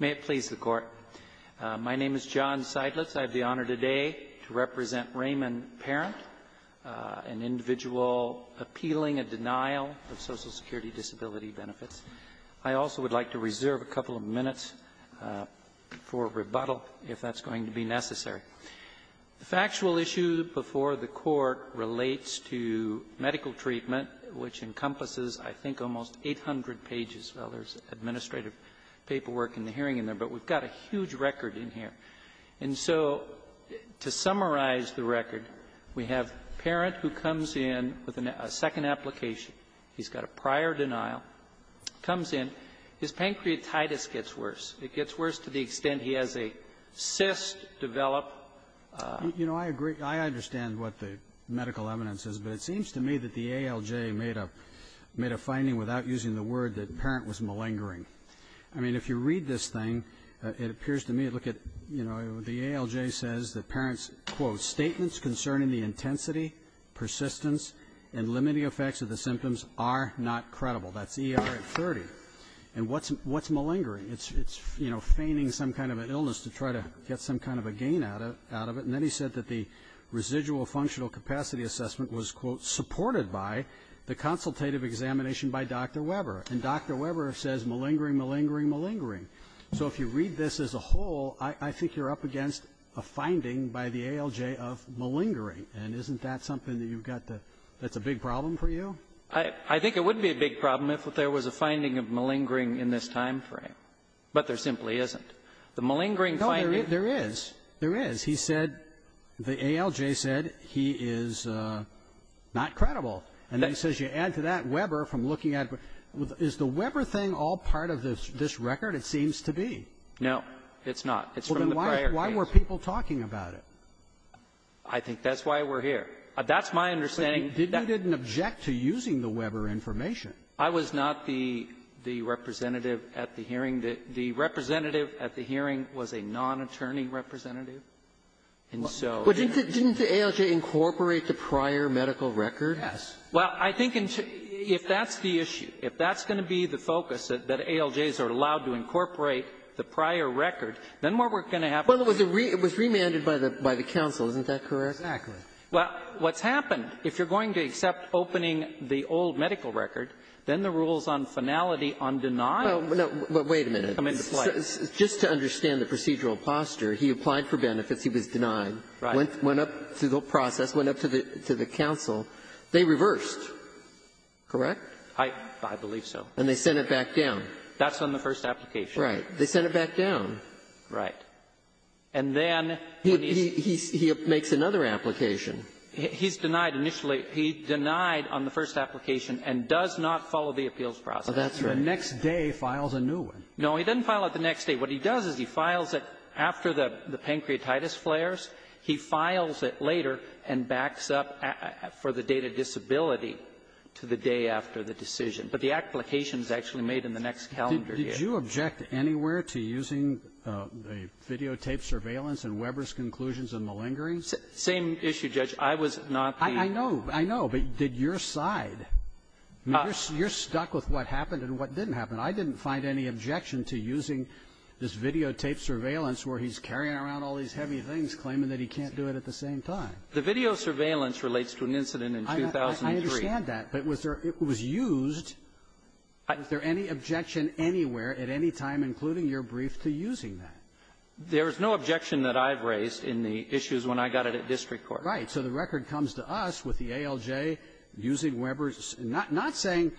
May it please the Court. My name is John Seidlitz. I have the honor today to represent Raymond Parent, an individual appealing a denial of Social Security disability benefits. I also would like to reserve a couple of minutes for rebuttal, if that's going to be necessary. The factual issue before the Court relates to medical treatment, which encompasses, I think, almost 800 pages. Well, there's administrative paperwork in the hearing in there, but we've got a huge record in here. And so to summarize the record, we have Parent who comes in with a second application. He's got a prior denial. Comes in. His pancreatitis gets worse. It gets worse to the extent he has a cyst develop. You know, I agree. I understand what the medical evidence is, but it seems to me that the ALJ made a finding without using the word that Parent was malingering. I mean, if you read this thing, it appears to me, look at, you know, the ALJ says that Parent's, quote, statements concerning the intensity, persistence, and limiting effects of the symptoms are not credible. That's ER at 30. And what's malingering? It's, you know, feigning some kind of an illness to try to get some kind of a gain out of it. And then he said that the residual functional capacity assessment was, quote, supported by the consultative examination by Dr. Weber. And Dr. Weber says malingering, malingering, malingering. So if you read this as a whole, I think you're up against a finding by the ALJ of malingering. And isn't that something that you've got that's a big problem for you? I think it would be a big problem if there was a finding of malingering in this time frame. But there simply isn't. The malingering finding No, there is. There is. He said, the ALJ said he is not credible. And then he says you add to that Weber from looking at it. Is the Weber thing all part of this record? It seems to be. No, it's not. It's from the prior case. Well, then why were people talking about it? I think that's why we're here. That's my understanding. But you didn't object to using the Weber information. I was not the representative at the hearing. The representative at the hearing was a non-attorney representative. And so the ALJ incorporated the prior medical record. Yes. Well, I think if that's the issue, if that's going to be the focus, that ALJs are allowed to incorporate the prior record, then what we're going to have to do is to do that. Well, it was remanded by the counsel. Isn't that correct? Exactly. Well, what's happened, if you're going to accept opening the old medical record, then the rules on finality on denial come into play. Well, wait a minute. Just to understand the procedural posture, he applied for benefits. He was denied. Right. Went up to the process, went up to the counsel. They reversed, correct? I believe so. And they sent it back down. That's on the first application. Right. They sent it back down. Right. And then when he's He makes another application. He's denied initially. He denied on the first application and does not follow the appeals process. Oh, that's right. The next day files a new one. No, he doesn't file it the next day. What he does is he files it after the pancreatitis flares. He files it later and backs up for the date of disability to the day after the decision. But the application is actually made in the next calendar year. Did you object anywhere to using a videotaped surveillance in Weber's conclusions on malingering? Same issue, Judge. I was not the ---- I know. I know. But did your side? You're stuck with what happened and what didn't happen. I didn't find any objection to using this videotaped surveillance where he's carrying around all these heavy things, claiming that he can't do it at the same time. The video surveillance relates to an incident in 2003. I understand that, but was there ---- it was used. Was there any objection anywhere at any time, including your brief, to using that? There is no objection that I've raised in the issues when I got it at district court. Right. So the record comes to us with the ALJ using Weber's ---- not saying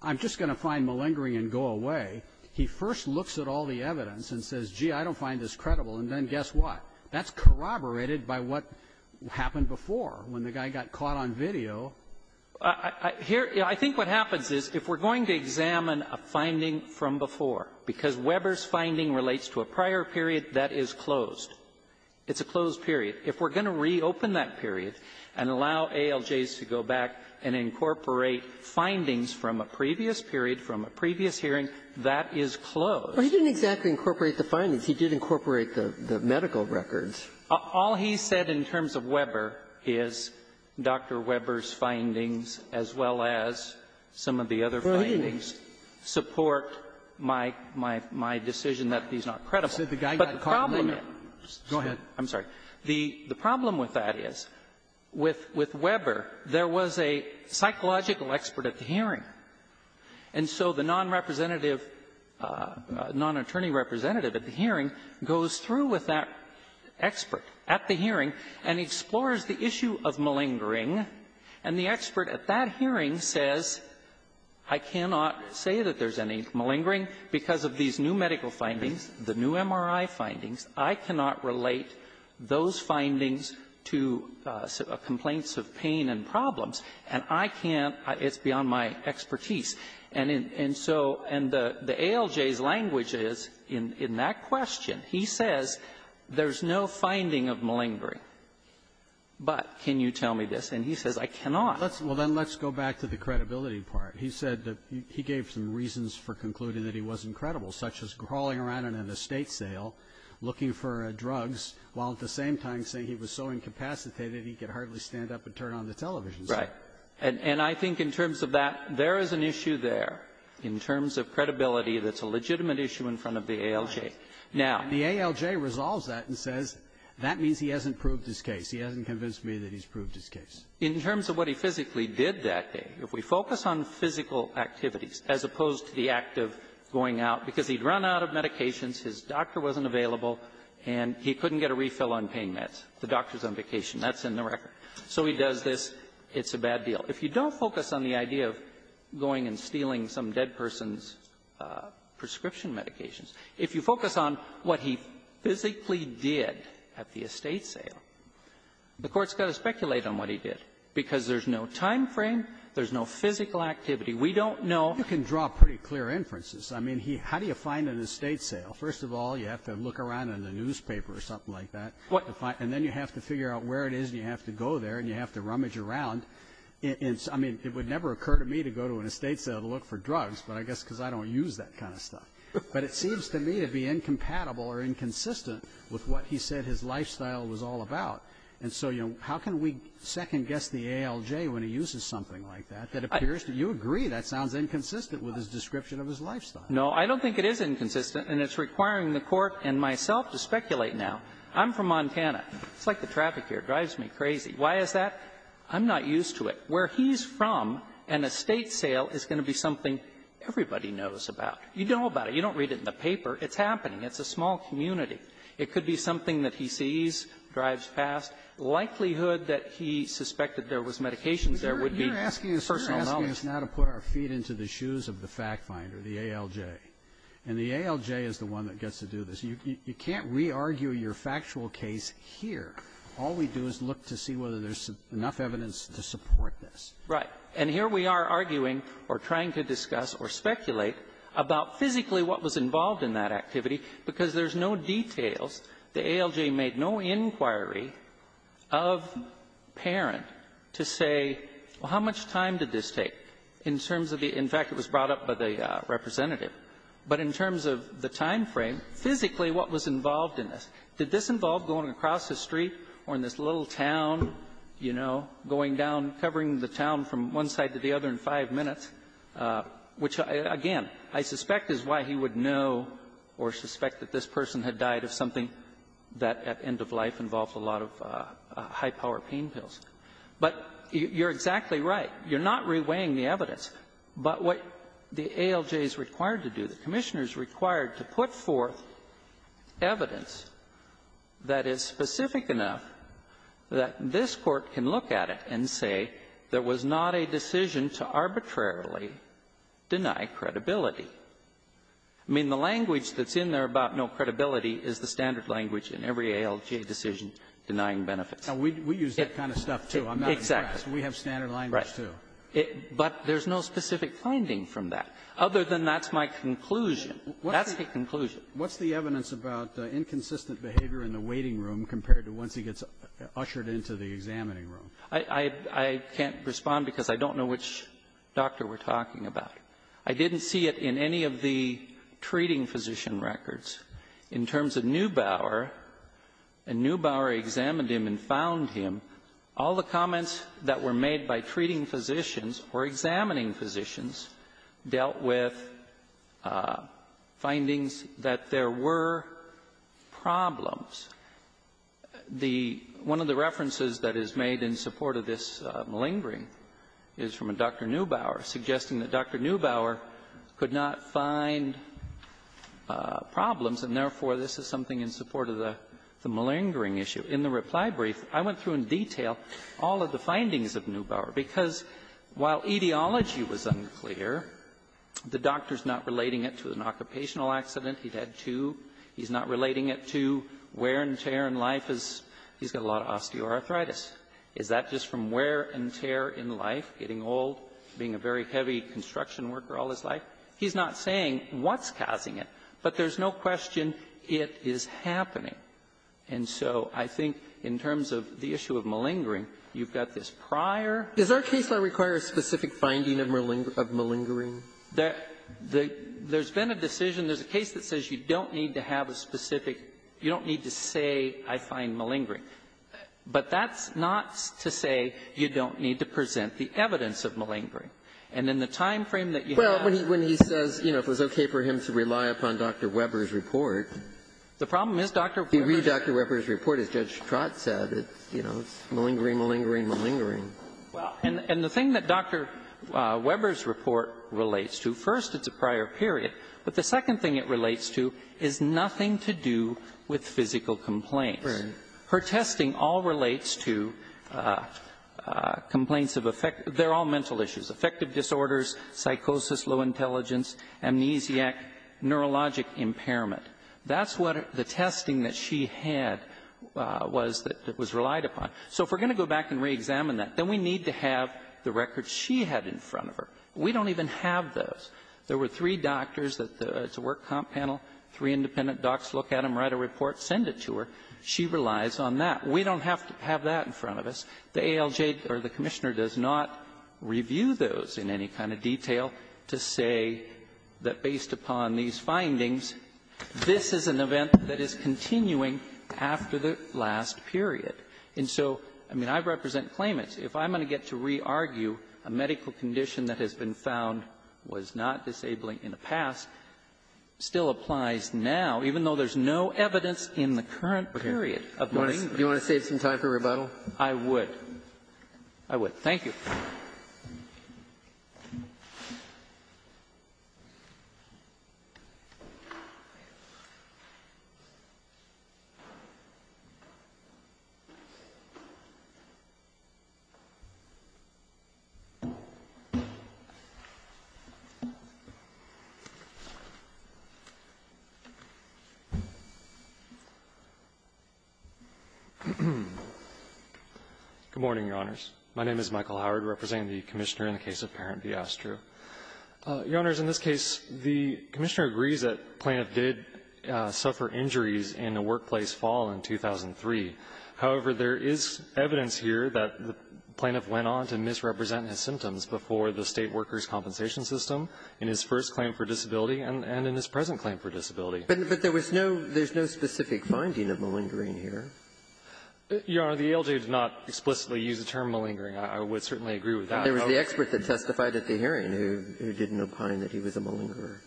I'm just going to find malingering and go away. He first looks at all the evidence and says, gee, I don't find this credible. And then guess what? That's corroborated by what happened before, when the guy got caught on video. Here ---- I think what happens is, if we're going to examine a finding from before, because Weber's finding relates to a prior period that is closed. It's a closed period. If we're going to reopen that period and allow ALJs to go back and incorporate findings from a previous period, from a previous hearing, that is closed. Well, he didn't exactly incorporate the findings. He did incorporate the medical records. All he said in terms of Weber is Dr. Weber's findings, as well as some of the other findings, support my decision that he's not credible. He said the guy got caught on video. Go ahead. I'm sorry. The problem with that is, with Weber, there was a psychological expert at the hearing. And so the nonrepresentative, nonattorney representative at the hearing goes through with that expert at the hearing and explores the issue of malingering. And the expert at that hearing says, I cannot say that there's any malingering because of these new medical findings, the new MRI findings. I cannot relate those findings to complaints of pain and problems. And I can't. It's beyond my expertise. And so the ALJ's language is, in that question, he says there's no finding of malingering. But can you tell me this? And he says, I cannot. Well, then let's go back to the credibility part. He said that he gave some reasons for concluding that he wasn't credible, such as crawling around in an estate sale, looking for drugs, while at the same time saying he was so incapacitated he could hardly stand up and turn on the television set. Right. And I think in terms of that, there is an issue there in terms of credibility that's a legitimate issue in front of the ALJ. Now the ALJ resolves that and says that means he hasn't proved his case. He hasn't convinced me that he's proved his case. In terms of what he physically did that day, if we focus on physical activities as opposed to the act of going out, because he'd run out of medications, his doctor wasn't available, and he couldn't get a refill on pain meds. The doctor's on vacation. That's in the record. So he does this. It's a bad deal. If you don't focus on the idea of going and stealing some dead person's prescription medications, if you focus on what he physically did at the estate sale, the Court's going to speculate on what he did, because there's no time frame, there's no physical activity. We don't know. You can draw pretty clear inferences. I mean, he how do you find an estate sale? First of all, you have to look around in the newspaper or something like that. And then you have to figure out where it is and you have to go there and you have to rummage around. I mean, it would never occur to me to go to an estate sale to look for drugs, but I guess because I don't use that kind of stuff. But it seems to me to be incompatible or inconsistent with what he said his lifestyle was all about. And so, you know, how can we second-guess the ALJ when he uses something like that that appears to you? You agree that sounds inconsistent with his description of his lifestyle. No, I don't think it is inconsistent, and it's requiring the Court and myself to speculate now. I'm from Montana. It's like the traffic here. It drives me crazy. Why is that? I'm not used to it. Where he's from, an estate sale is going to be something everybody knows about. You know about it. You don't read it in the paper. It's happening. It's a small community. It could be something that he sees, drives past, likelihood that he suspected there was medications there would be personal knowledge. You're asking us now to put our feet into the shoes of the fact finder, the ALJ. And the ALJ is the one that gets to do this. You can't re-argue your factual case here. All we do is look to see whether there's enough evidence to support this. Right. And here we are arguing or trying to discuss or speculate about physically what was involved in this. And I'm not going to go into the details. The ALJ made no inquiry of Parent to say, well, how much time did this take in terms of the — in fact, it was brought up by the representative. But in terms of the time frame, physically what was involved in this? Did this involve going across the street or in this little town, you know, going down, covering the town from one side to the other in five minutes, which, again, I suspect is why he would know or suspect that this person had died of something that, at end of life, involved a lot of high-power pain pills. But you're exactly right. You're not re-weighing the evidence. But what the ALJ is required to do, the Commissioner is required to put forth evidence that is specific enough that this Court can look at it and say there was not a decision to arbitrarily deny credibility. I mean, the language that's in there about no credibility is the standard language in every ALJ decision denying benefits. Roberts. Now, we use that kind of stuff, too. I'm not impressed. We have standard language, too. But there's no specific finding from that, other than that's my conclusion. That's the conclusion. What's the evidence about inconsistent behavior in the waiting room compared to once he gets ushered into the examining room? I can't respond because I don't know which doctor we're talking about. I didn't see it in any of the treating physician records. In terms of Neubauer, and Neubauer examined him and found him, all the comments that were made by treating physicians or examining physicians dealt with findings that there were problems. The one of the references that is made in support of this malingering is from a Dr. Neubauer, suggesting that Dr. Neubauer could not find problems, and therefore, this is something in support of the malingering issue. In the reply brief, I went through in detail all of the findings of Neubauer, because while etiology was unclear, the doctor's not relating it to an occupational accident. He's had two. He's not relating it to wear and tear in life. He's got a lot of osteoarthritis. Is that just from wear and tear in life, getting old, being a very heavy construction worker all his life? He's not saying what's causing it, but there's no question it is happening. And so I think in terms of the issue of malingering, you've got this prior to the malingering. Sotomayor, is our case law require a specific finding of malingering? There's been a decision. There's a case that says you don't need to have a specific you don't need to say I find malingering. But that's not to say you don't need to present the evidence of malingering. And in the time frame that you have to present the evidence of malingering. Well, when he says, you know, it was okay for him to rely upon Dr. Weber's report. The problem is Dr. Weber's report. If you read Dr. Weber's report, as Judge Trott said, it's malingering, malingering, malingering. And the thing that Dr. Weber's report relates to, first, it's a prior period. But the second thing it relates to is nothing to do with physical complaints. Her testing all relates to complaints of affect, they're all mental issues, affective disorders, psychosis, low intelligence, amnesiac, neurologic impairment. That's what the testing that she had was that was relied upon. So if we're going to go back and reexamine that, then we need to have the records she had in front of her. We don't even have those. There were three doctors at the work comp panel, three independent docs look at them, write a report, send it to her. She relies on that. We don't have to have that in front of us. The ALJ or the Commissioner does not review those in any kind of detail to say that based upon these findings, this is an event that is continuing after the last period. And so, I mean, I represent claimants. If I'm going to get to re-argue a medical condition that has been found was not disabling in the past, still applies now, even though there's no evidence in the current period. Do you want to save some time for rebuttal? I would. I would. Thank you. Good morning, Your Honors. My name is Michael Howard representing the Commissioner in the case of Parent v. Astru. Your Honors, in this case, the Commissioner agrees that the plaintiff did suffer injuries in a workplace fall in 2003. However, there is evidence here that the plaintiff went on to misrepresent his symptoms before the State Workers' Compensation System in his first claim for disability and in his present claim for disability. But there was no specific finding of malingering here. Your Honor, the ALJ did not explicitly use the term malingering. I would certainly agree with that. There was the expert that testified at the hearing who didn't opine that he was a malingerer.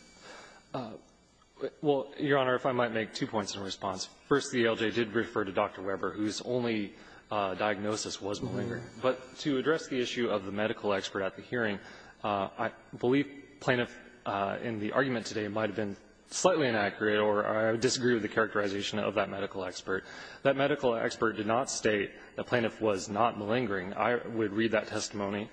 Well, Your Honor, if I might make two points in response. First, the ALJ did refer to Dr. Weber, whose only diagnosis was malingering. But to address the issue of the medical expert at the hearing, I believe plaintiff in the argument today might have been slightly inaccurate or I would disagree with the characterization of that medical expert. That medical expert did not state the plaintiff was not malingering. I would read that testimony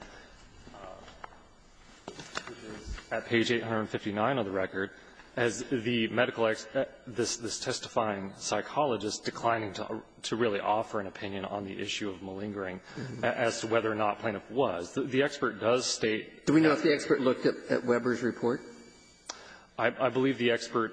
at page 859 of the record as the medical expert, this testifying psychologist, declining to really offer an opinion on the issue of malingering as to whether or not the plaintiff was. The expert does state that the expert looked at Weber's report. I believe the expert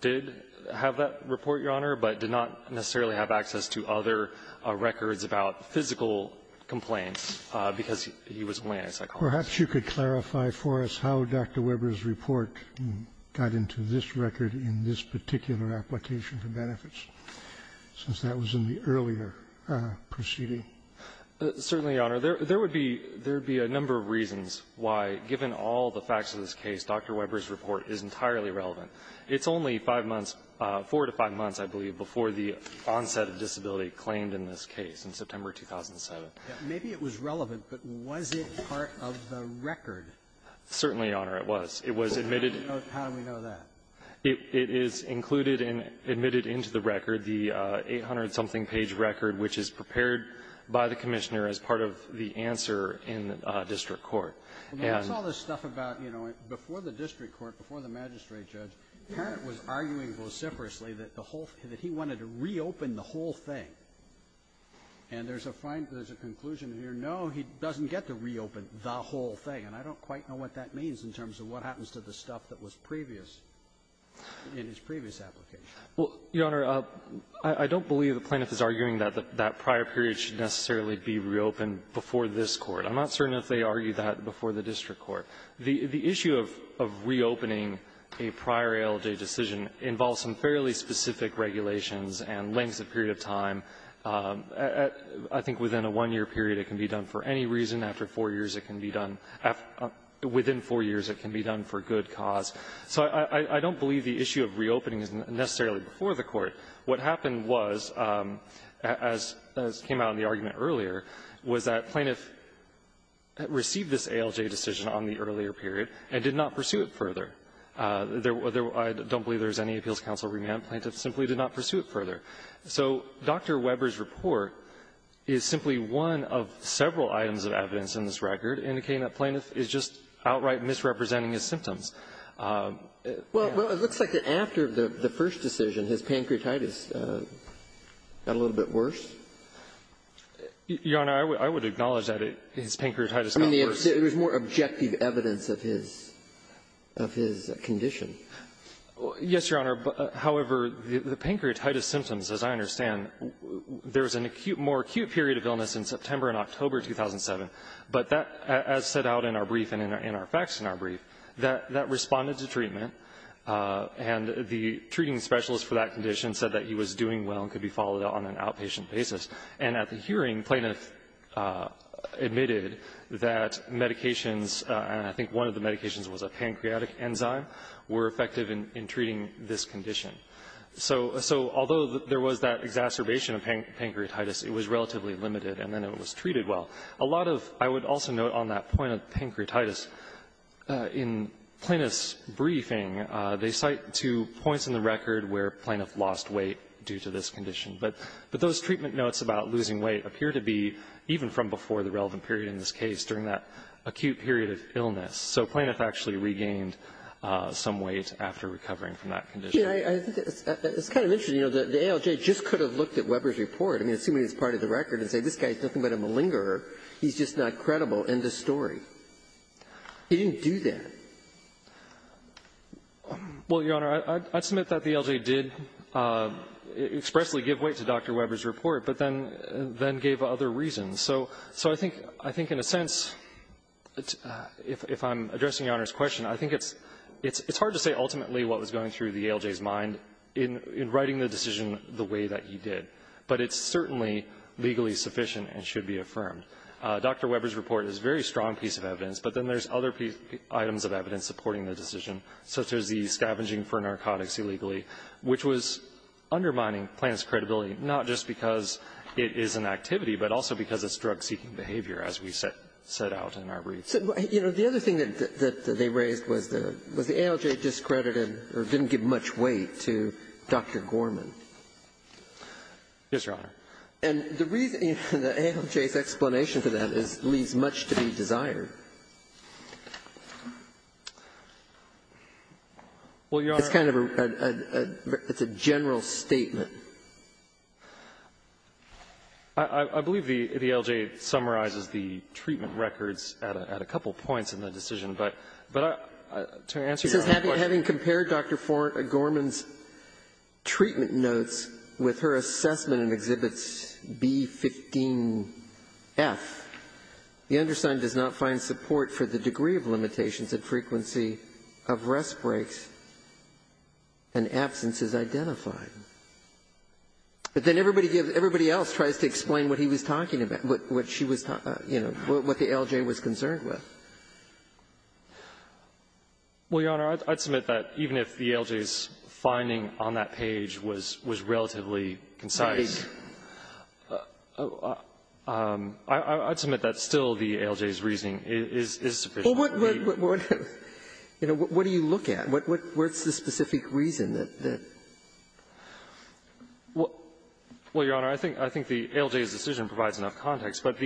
did have that report, Your Honor, but did not necessarily have access to other records about physical complaints because he was a malingering psychologist. Perhaps you could clarify for us how Dr. Weber's report got into this record in this particular application for benefits, since that was in the earlier proceeding. Certainly, Your Honor. There would be a number of reasons why, given all the facts of this case, Dr. Weber's report is entirely relevant. It's only five months, four to five months, I believe, before the onset of disability claimed in this case in September 2007. Maybe it was relevant, but was it part of the record? Certainly, Your Honor, it was. It was admitted into the record, the 800-something page record, which is prepared by the Commissioner as part of the answer in district court. And the other stuff about, you know, before the district court, before the magistrate judge, Parent was arguing vociferously that the whole thing, that he wanted to reopen the whole thing. And there's a fine, there's a conclusion here, no, he doesn't get to reopen the whole thing, and I don't quite know what that means in terms of what happens to the stuff that was previous in his previous application. Well, Your Honor, I don't believe the plaintiff is arguing that that prior period should necessarily be reopened before this Court. I'm not certain if they argue that before the district court. The issue of reopening a prior ALJ decision involves some fairly specific regulations and lengths of period of time. I think within a one-year period it can be done for any reason. After four years it can be done for good cause. So I don't believe the issue of reopening is necessarily before the Court. What happened was, as came out in the argument earlier, was that plaintiff received this ALJ decision on the earlier period and did not pursue it further. I don't believe there's any appeals counsel remand. Plaintiff simply did not pursue it further. So Dr. Weber's report is simply one of several items of evidence in this record indicating that plaintiff is just outright misrepresenting his symptoms. Well, it looks like after the first decision, his pancreatitis got a little bit worse. Your Honor, I would acknowledge that his pancreatitis got worse. I mean, there's more objective evidence of his condition. Yes, Your Honor. However, the pancreatitis symptoms, as I understand, there's an acute more acute period of illness in September and October 2007, but that, as set out in our brief and in our facts in our brief, that responded to treatment, and the treating specialist for that condition said that he was doing well and could be followed on an outpatient basis, and at the hearing, plaintiff admitted that medications, and I think one of the medications was a pancreatic enzyme, were effective in treating this condition. So although there was that exacerbation of pancreatitis, it was relatively limited, and then it was treated well. A lot of, I would also note on that point of pancreatitis, in Plaintiff's briefing, they cite two points in the record where plaintiff lost weight due to this condition, but those treatment notes about losing weight appear to be even from before the relevant period in this case, during that acute period of illness. So plaintiff actually regained some weight after recovering from that condition. I think it's kind of interesting, you know, the ALJ just could have looked at Weber's report, I mean, assuming it's part of the record, and said this guy is nothing but a malingerer, he's just not credible in this story. He didn't do that. Well, Your Honor, I'd submit that the ALJ did expressly give weight to Dr. Weber's report, but then gave other reasons. So I think in a sense, if I'm addressing Your Honor's question, I think it's hard to say ultimately what was going through the ALJ's mind in writing the decision the way that he did. But it's certainly legally sufficient and should be affirmed. Dr. Weber's report is a very strong piece of evidence, but then there's other items of evidence supporting the decision, such as the scavenging for narcotics illegally, which was undermining plaintiff's credibility, not just because it is an activity, but also because it's drug-seeking behavior, as we set out in our brief. So, you know, the other thing that they raised was the ALJ discredited or didn't give much weight to Dr. Gorman. Yes, Your Honor. And the reason the ALJ's explanation for that is it leaves much to be desired. Well, Your Honor It's kind of a general statement. I believe the ALJ summarizes the treatment records at a couple points in the decision. But to answer Your Honor's question This is having compared Dr. Gorman's treatment notes with her assessment in Exhibits B, 15, F. The undersigned does not find support for the degree of limitations and frequency of rest breaks and absences identified. But then everybody else tries to explain what he was talking about, what she was talking about, you know, what the ALJ was concerned with. Well, Your Honor, I'd submit that even if the ALJ's finding on that page was relatively concise, I'd submit that still the ALJ's reasoning is sufficient. Well, what do you look at? What's the specific reason that? Well, Your Honor, I think the ALJ's decision provides enough context. But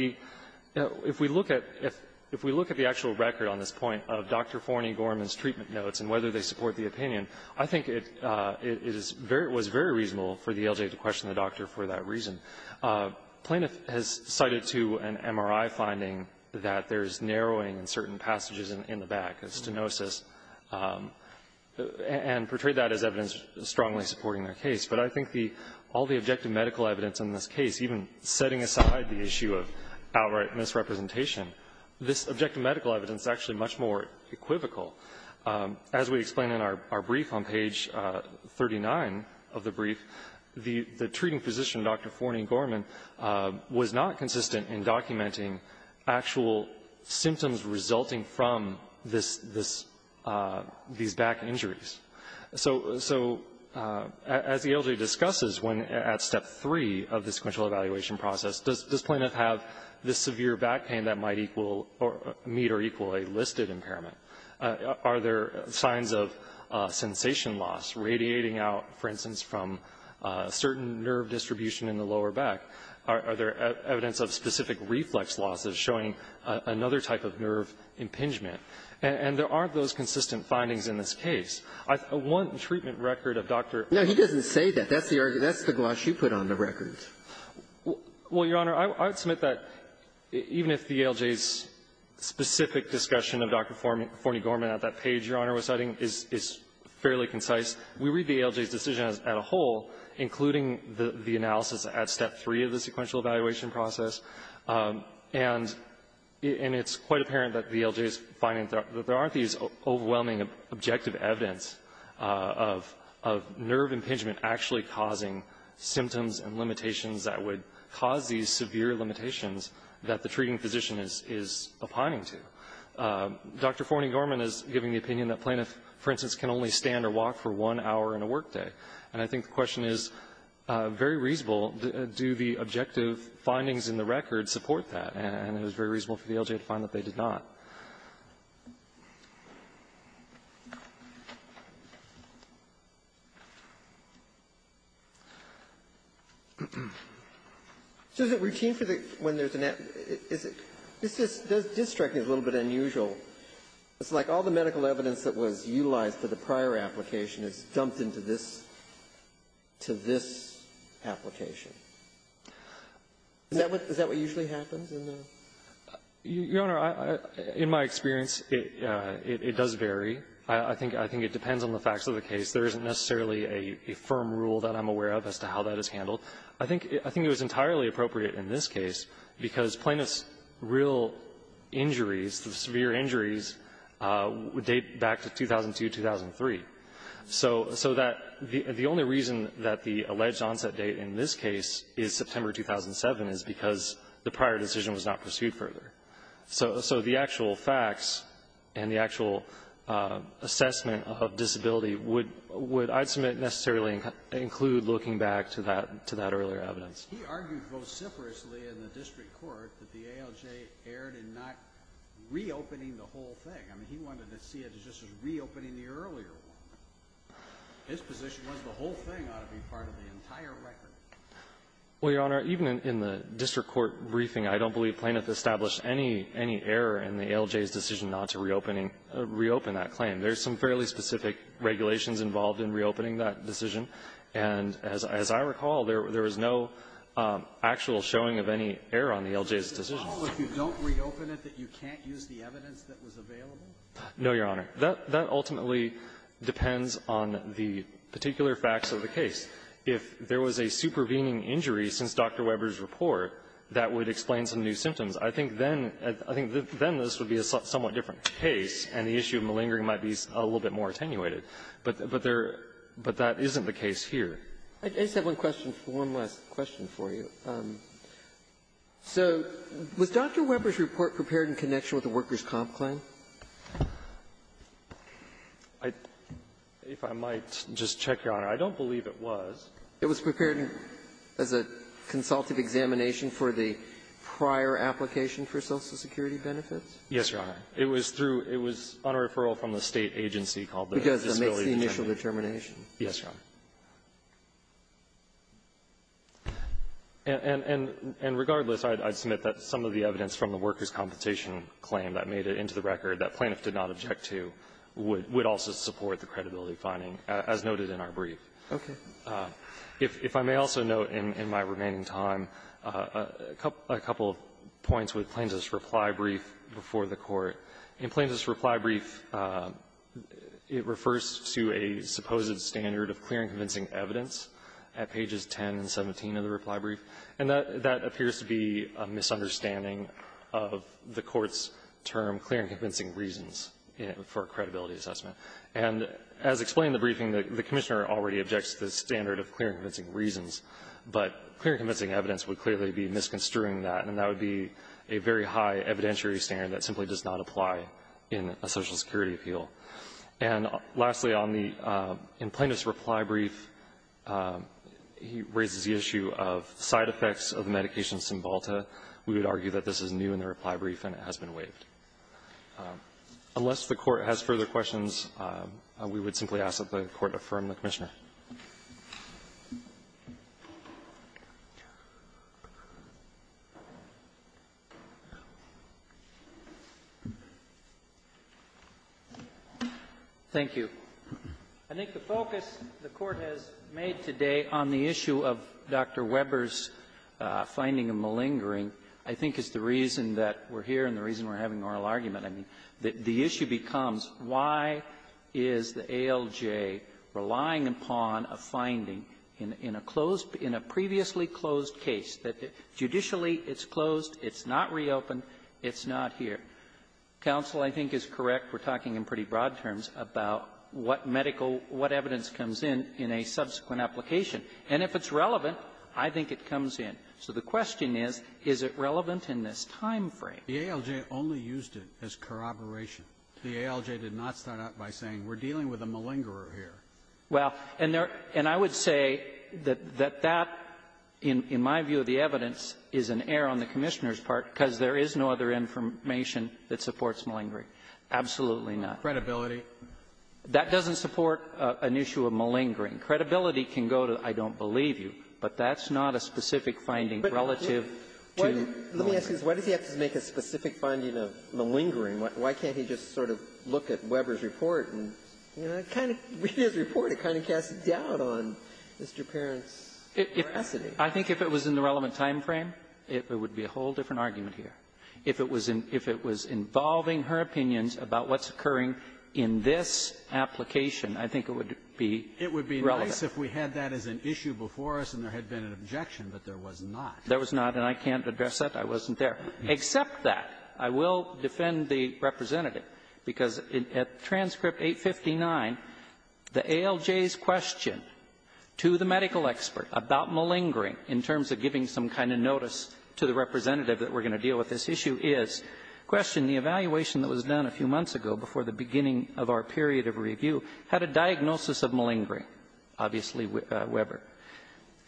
if we look at the actual record on this point of Dr. Forney Gorman's treatment notes and whether they support the opinion, I think it was very reasonable for the ALJ to question the doctor for that reason. Plaintiff has cited to an MRI finding that there's narrowing in certain passages in the back, a stenosis, and portrayed that as evidence strongly supporting their case. But I think all the objective medical evidence in this case, even setting aside the issue of outright misrepresentation, this objective medical evidence is actually much more equivocal. As we explain in our brief on page 39 of the brief, the treating physician, Dr. Forney Gorman, was not consistent in documenting actual symptoms resulting from this this these back injuries. So as the ALJ discusses when at step 3 of the sequential evaluation process, does this plaintiff have this severe back pain that might equal or meet or equal a listed impairment? Are there signs of sensation loss radiating out, for instance, from certain nerve distribution in the lower back? Are there evidence of specific reflex loss that is showing another type of nerve impingement? And there aren't those consistent findings in this case. One treatment record of Dr. Forney Gorman's treatment notes is that there's not a single I would submit that even if the ALJ's specific discussion of Dr. Forney Gorman at that page Your Honor was citing is fairly concise, we read the ALJ's decision as a whole, including the analysis at step 3 of the sequential evaluation process. And it's quite apparent that the ALJ's finding that there aren't these overwhelming objective evidence of nerve impingement actually causing symptoms and limitations that would cause these severe limitations that the treating physician is opining to. Dr. Forney Gorman is giving the opinion that plaintiffs, for instance, can only stand or walk for one hour in a workday. And I think the question is very reasonable. Do the objective findings in the record support that? And it was very reasonable for the ALJ to find that they did not. So is it routine for the, when there's an, is it, this is, this district is a little bit unusual. It's like all the medical evidence that was utilized for the prior application is dumped into this, to this application. Is that what, is that what usually happens in the? Your Honor, in my experience, it does vary. I think it depends on the facts of the case. There isn't necessarily a firm rule that I'm aware of as to how that is handled. I think it was entirely appropriate in this case because plaintiffs' real injuries, the severe injuries, would date back to 2002, 2003. So that the only reason that the alleged onset date in this case is September 2007 is because the prior decision was not pursued further. So the actual facts and the actual assessment of disability would, I'd submit, necessarily include looking back to that earlier evidence. He argued vociferously in the district court that the ALJ erred in not reopening the whole thing. I mean, he wanted to see it just as reopening the earlier one. His position was the whole thing ought to be part of the entire record. Well, Your Honor, even in the district court briefing, I don't believe Plaintiff established any, any error in the ALJ's decision not to reopening, reopen that claim. There's some fairly specific regulations involved in reopening that decision. And as I recall, there was no actual showing of any error on the ALJ's decision. So you recall if you don't reopen it that you can't use the evidence that was available? No, Your Honor. That ultimately depends on the particular facts of the case. If there was a supervening injury since Dr. Weber's report, that would explain some new symptoms. I think then, I think then this would be a somewhat different case, and the issue of malingering might be a little bit more attenuated. But there — but that isn't the case here. I just have one question, one last question for you. So was Dr. Weber's report prepared in connection with the workers' comp claim? I — if I might just check, Your Honor, I don't believe it was. It was prepared as a consultative examination for the prior application for Social Security benefits? Yes, Your Honor. It was through — it was on a referral from the State agency called the Disability Determination. Because it makes the initial determination. Yes, Your Honor. And regardless, I'd submit that some of the evidence from the workers' compensation claim that made it into the record that Plaintiff did not object to would also support the credibility finding, as noted in our brief. Okay. If I may also note in my remaining time a couple of points with Plaintiff's reply brief before the Court. In Plaintiff's reply brief, it refers to a supposed standard of clear and convincing evidence at pages 10 and 17 of the reply brief, and that appears to be a misunderstanding of the Court's term, clear and convincing reasons, for a credibility assessment. And as explained in the briefing, the Commissioner already objects to the standard of clear and convincing reasons, but clear and convincing evidence would clearly be misconstruing that, and that would be a very high evidentiary standard that simply does not apply in a Social Security appeal. And lastly, on the — in Plaintiff's reply brief, he raises the issue of side effects of the medication Cymbalta. We would argue that this is new in the reply brief and it has been waived. Unless the Court has further questions, we would simply ask that the Court affirm the Commissioner. Thank you. I think the focus the Court has made today on the issue of Dr. Weber's finding of malingering, I think, is the reason that we're here and the reason we're having oral argument. I mean, the issue becomes why is the ALJ relying upon a finding in a closed, in a previously closed case, that judicially it's closed, it's not reopened, it's not here. Counsel, I think, is correct. We're talking in pretty broad terms about what medical, what evidence comes in in a subsequent application. And if it's relevant, I think it comes in. So the question is, is it relevant in this time frame? The ALJ only used it as corroboration. The ALJ did not start out by saying, we're dealing with a malingerer here. Well, and there — and I would say that that, in my view of the evidence, is an error on the Commissioner's part because there is no other information that supports malingering. Absolutely not. Credibility. That doesn't support an issue of malingering. Credibility can go to, I don't believe you, but that's not a specific finding relative to malingering. But let me ask you this. Why does he have to make a specific finding of malingering? Why can't he just sort of look at Weber's report and kind of read his report and kind of cast doubt on Mr. Perrin's veracity? I think if it was in the relevant time frame, it would be a whole different argument here. If it was involving her opinions about what's occurring in this application, I think it would be right. It would be nice if we had that as an issue before us and there had been an objection, but there was not. There was not, and I can't address that. I wasn't there. Except that, I will defend the representative, because at transcript 859, the ALJ's question to the medical expert about malingering in terms of giving some kind of notice to the representative that we're going to deal with this issue is, question the evaluation that was done a few months ago before the beginning of our period of review, had a diagnosis of malingering, obviously Weber.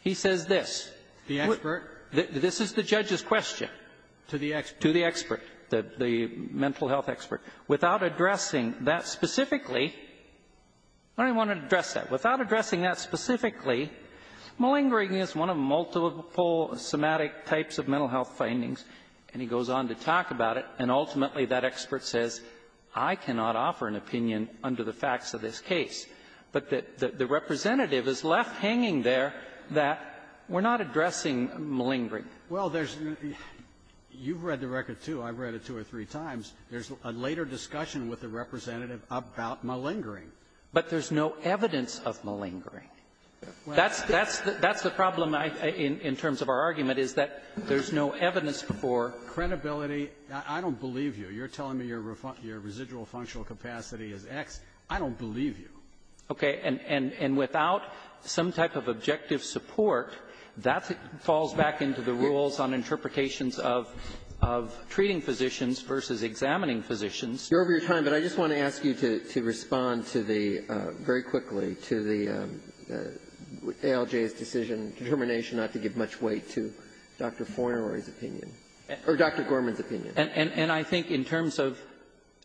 He says this. The expert? This is the judge's question. To the expert? To the expert, the mental health expert. Without addressing that specifically, I don't even want to address that. Without addressing that specifically, malingering is one of multiple somatic types of mental health findings, and he goes on to talk about it. And ultimately, that expert says, I cannot offer an opinion under the facts of this case. But the representative is left hanging there that we're not addressing malingering. Well, there's no ---- you've read the record, too. I've read it two or three times. There's a later discussion with the representative about malingering. But there's no evidence of malingering. That's the problem in terms of our argument, is that there's no evidence for ---- Credibility? I don't believe you. You're telling me your residual functional capacity is X. I don't believe you. Okay. And without some type of objective support, that falls back into the rules on interpretations of treating physicians versus examining physicians. You're over your time, but I just want to ask you to respond to the ---- very quickly to the ALJ's decision, determination not to give much weight to Dr. Fornori's opinion, or Dr. Gorman's opinion. And I think in terms of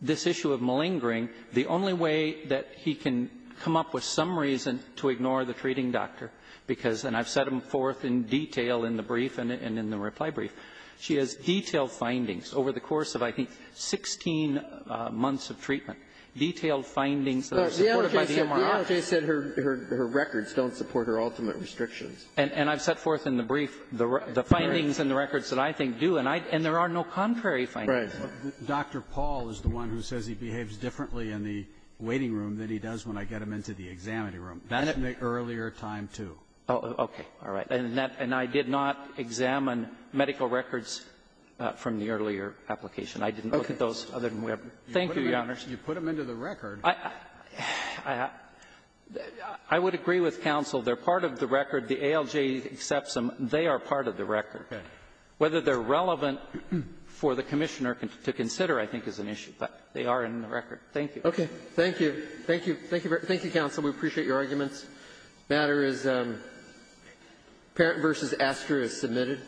this issue of malingering, the only way that he can come up with some reason to ignore the treating doctor, because ---- and I've set him forth in detail in the brief and in the reply brief. She has detailed findings over the course of, I think, 16 months of treatment, detailed findings that are supported by the MRR. The ALJ said her records don't support her ultimate restrictions. And I've set forth in the brief the findings and the records that I think do. And I ---- and there are no contrary findings. Right. Dr. Paul is the one who says he behaves differently in the waiting room than he does when I get him into the examiner room. And in the earlier time, too. Okay. All right. And that ---- and I did not examine medical records from the earlier application. I didn't look at those other than we have. Thank you, Your Honor. You put them into the record. I would agree with counsel. They're part of the record. The ALJ accepts them. They are part of the record. Okay. Whether they're relevant for the Commissioner to consider, I think, is an issue. But they are in the record. Thank you. Okay. Thank you. Thank you. Thank you, counsel. We appreciate your arguments. The matter is parent versus aster is submitted.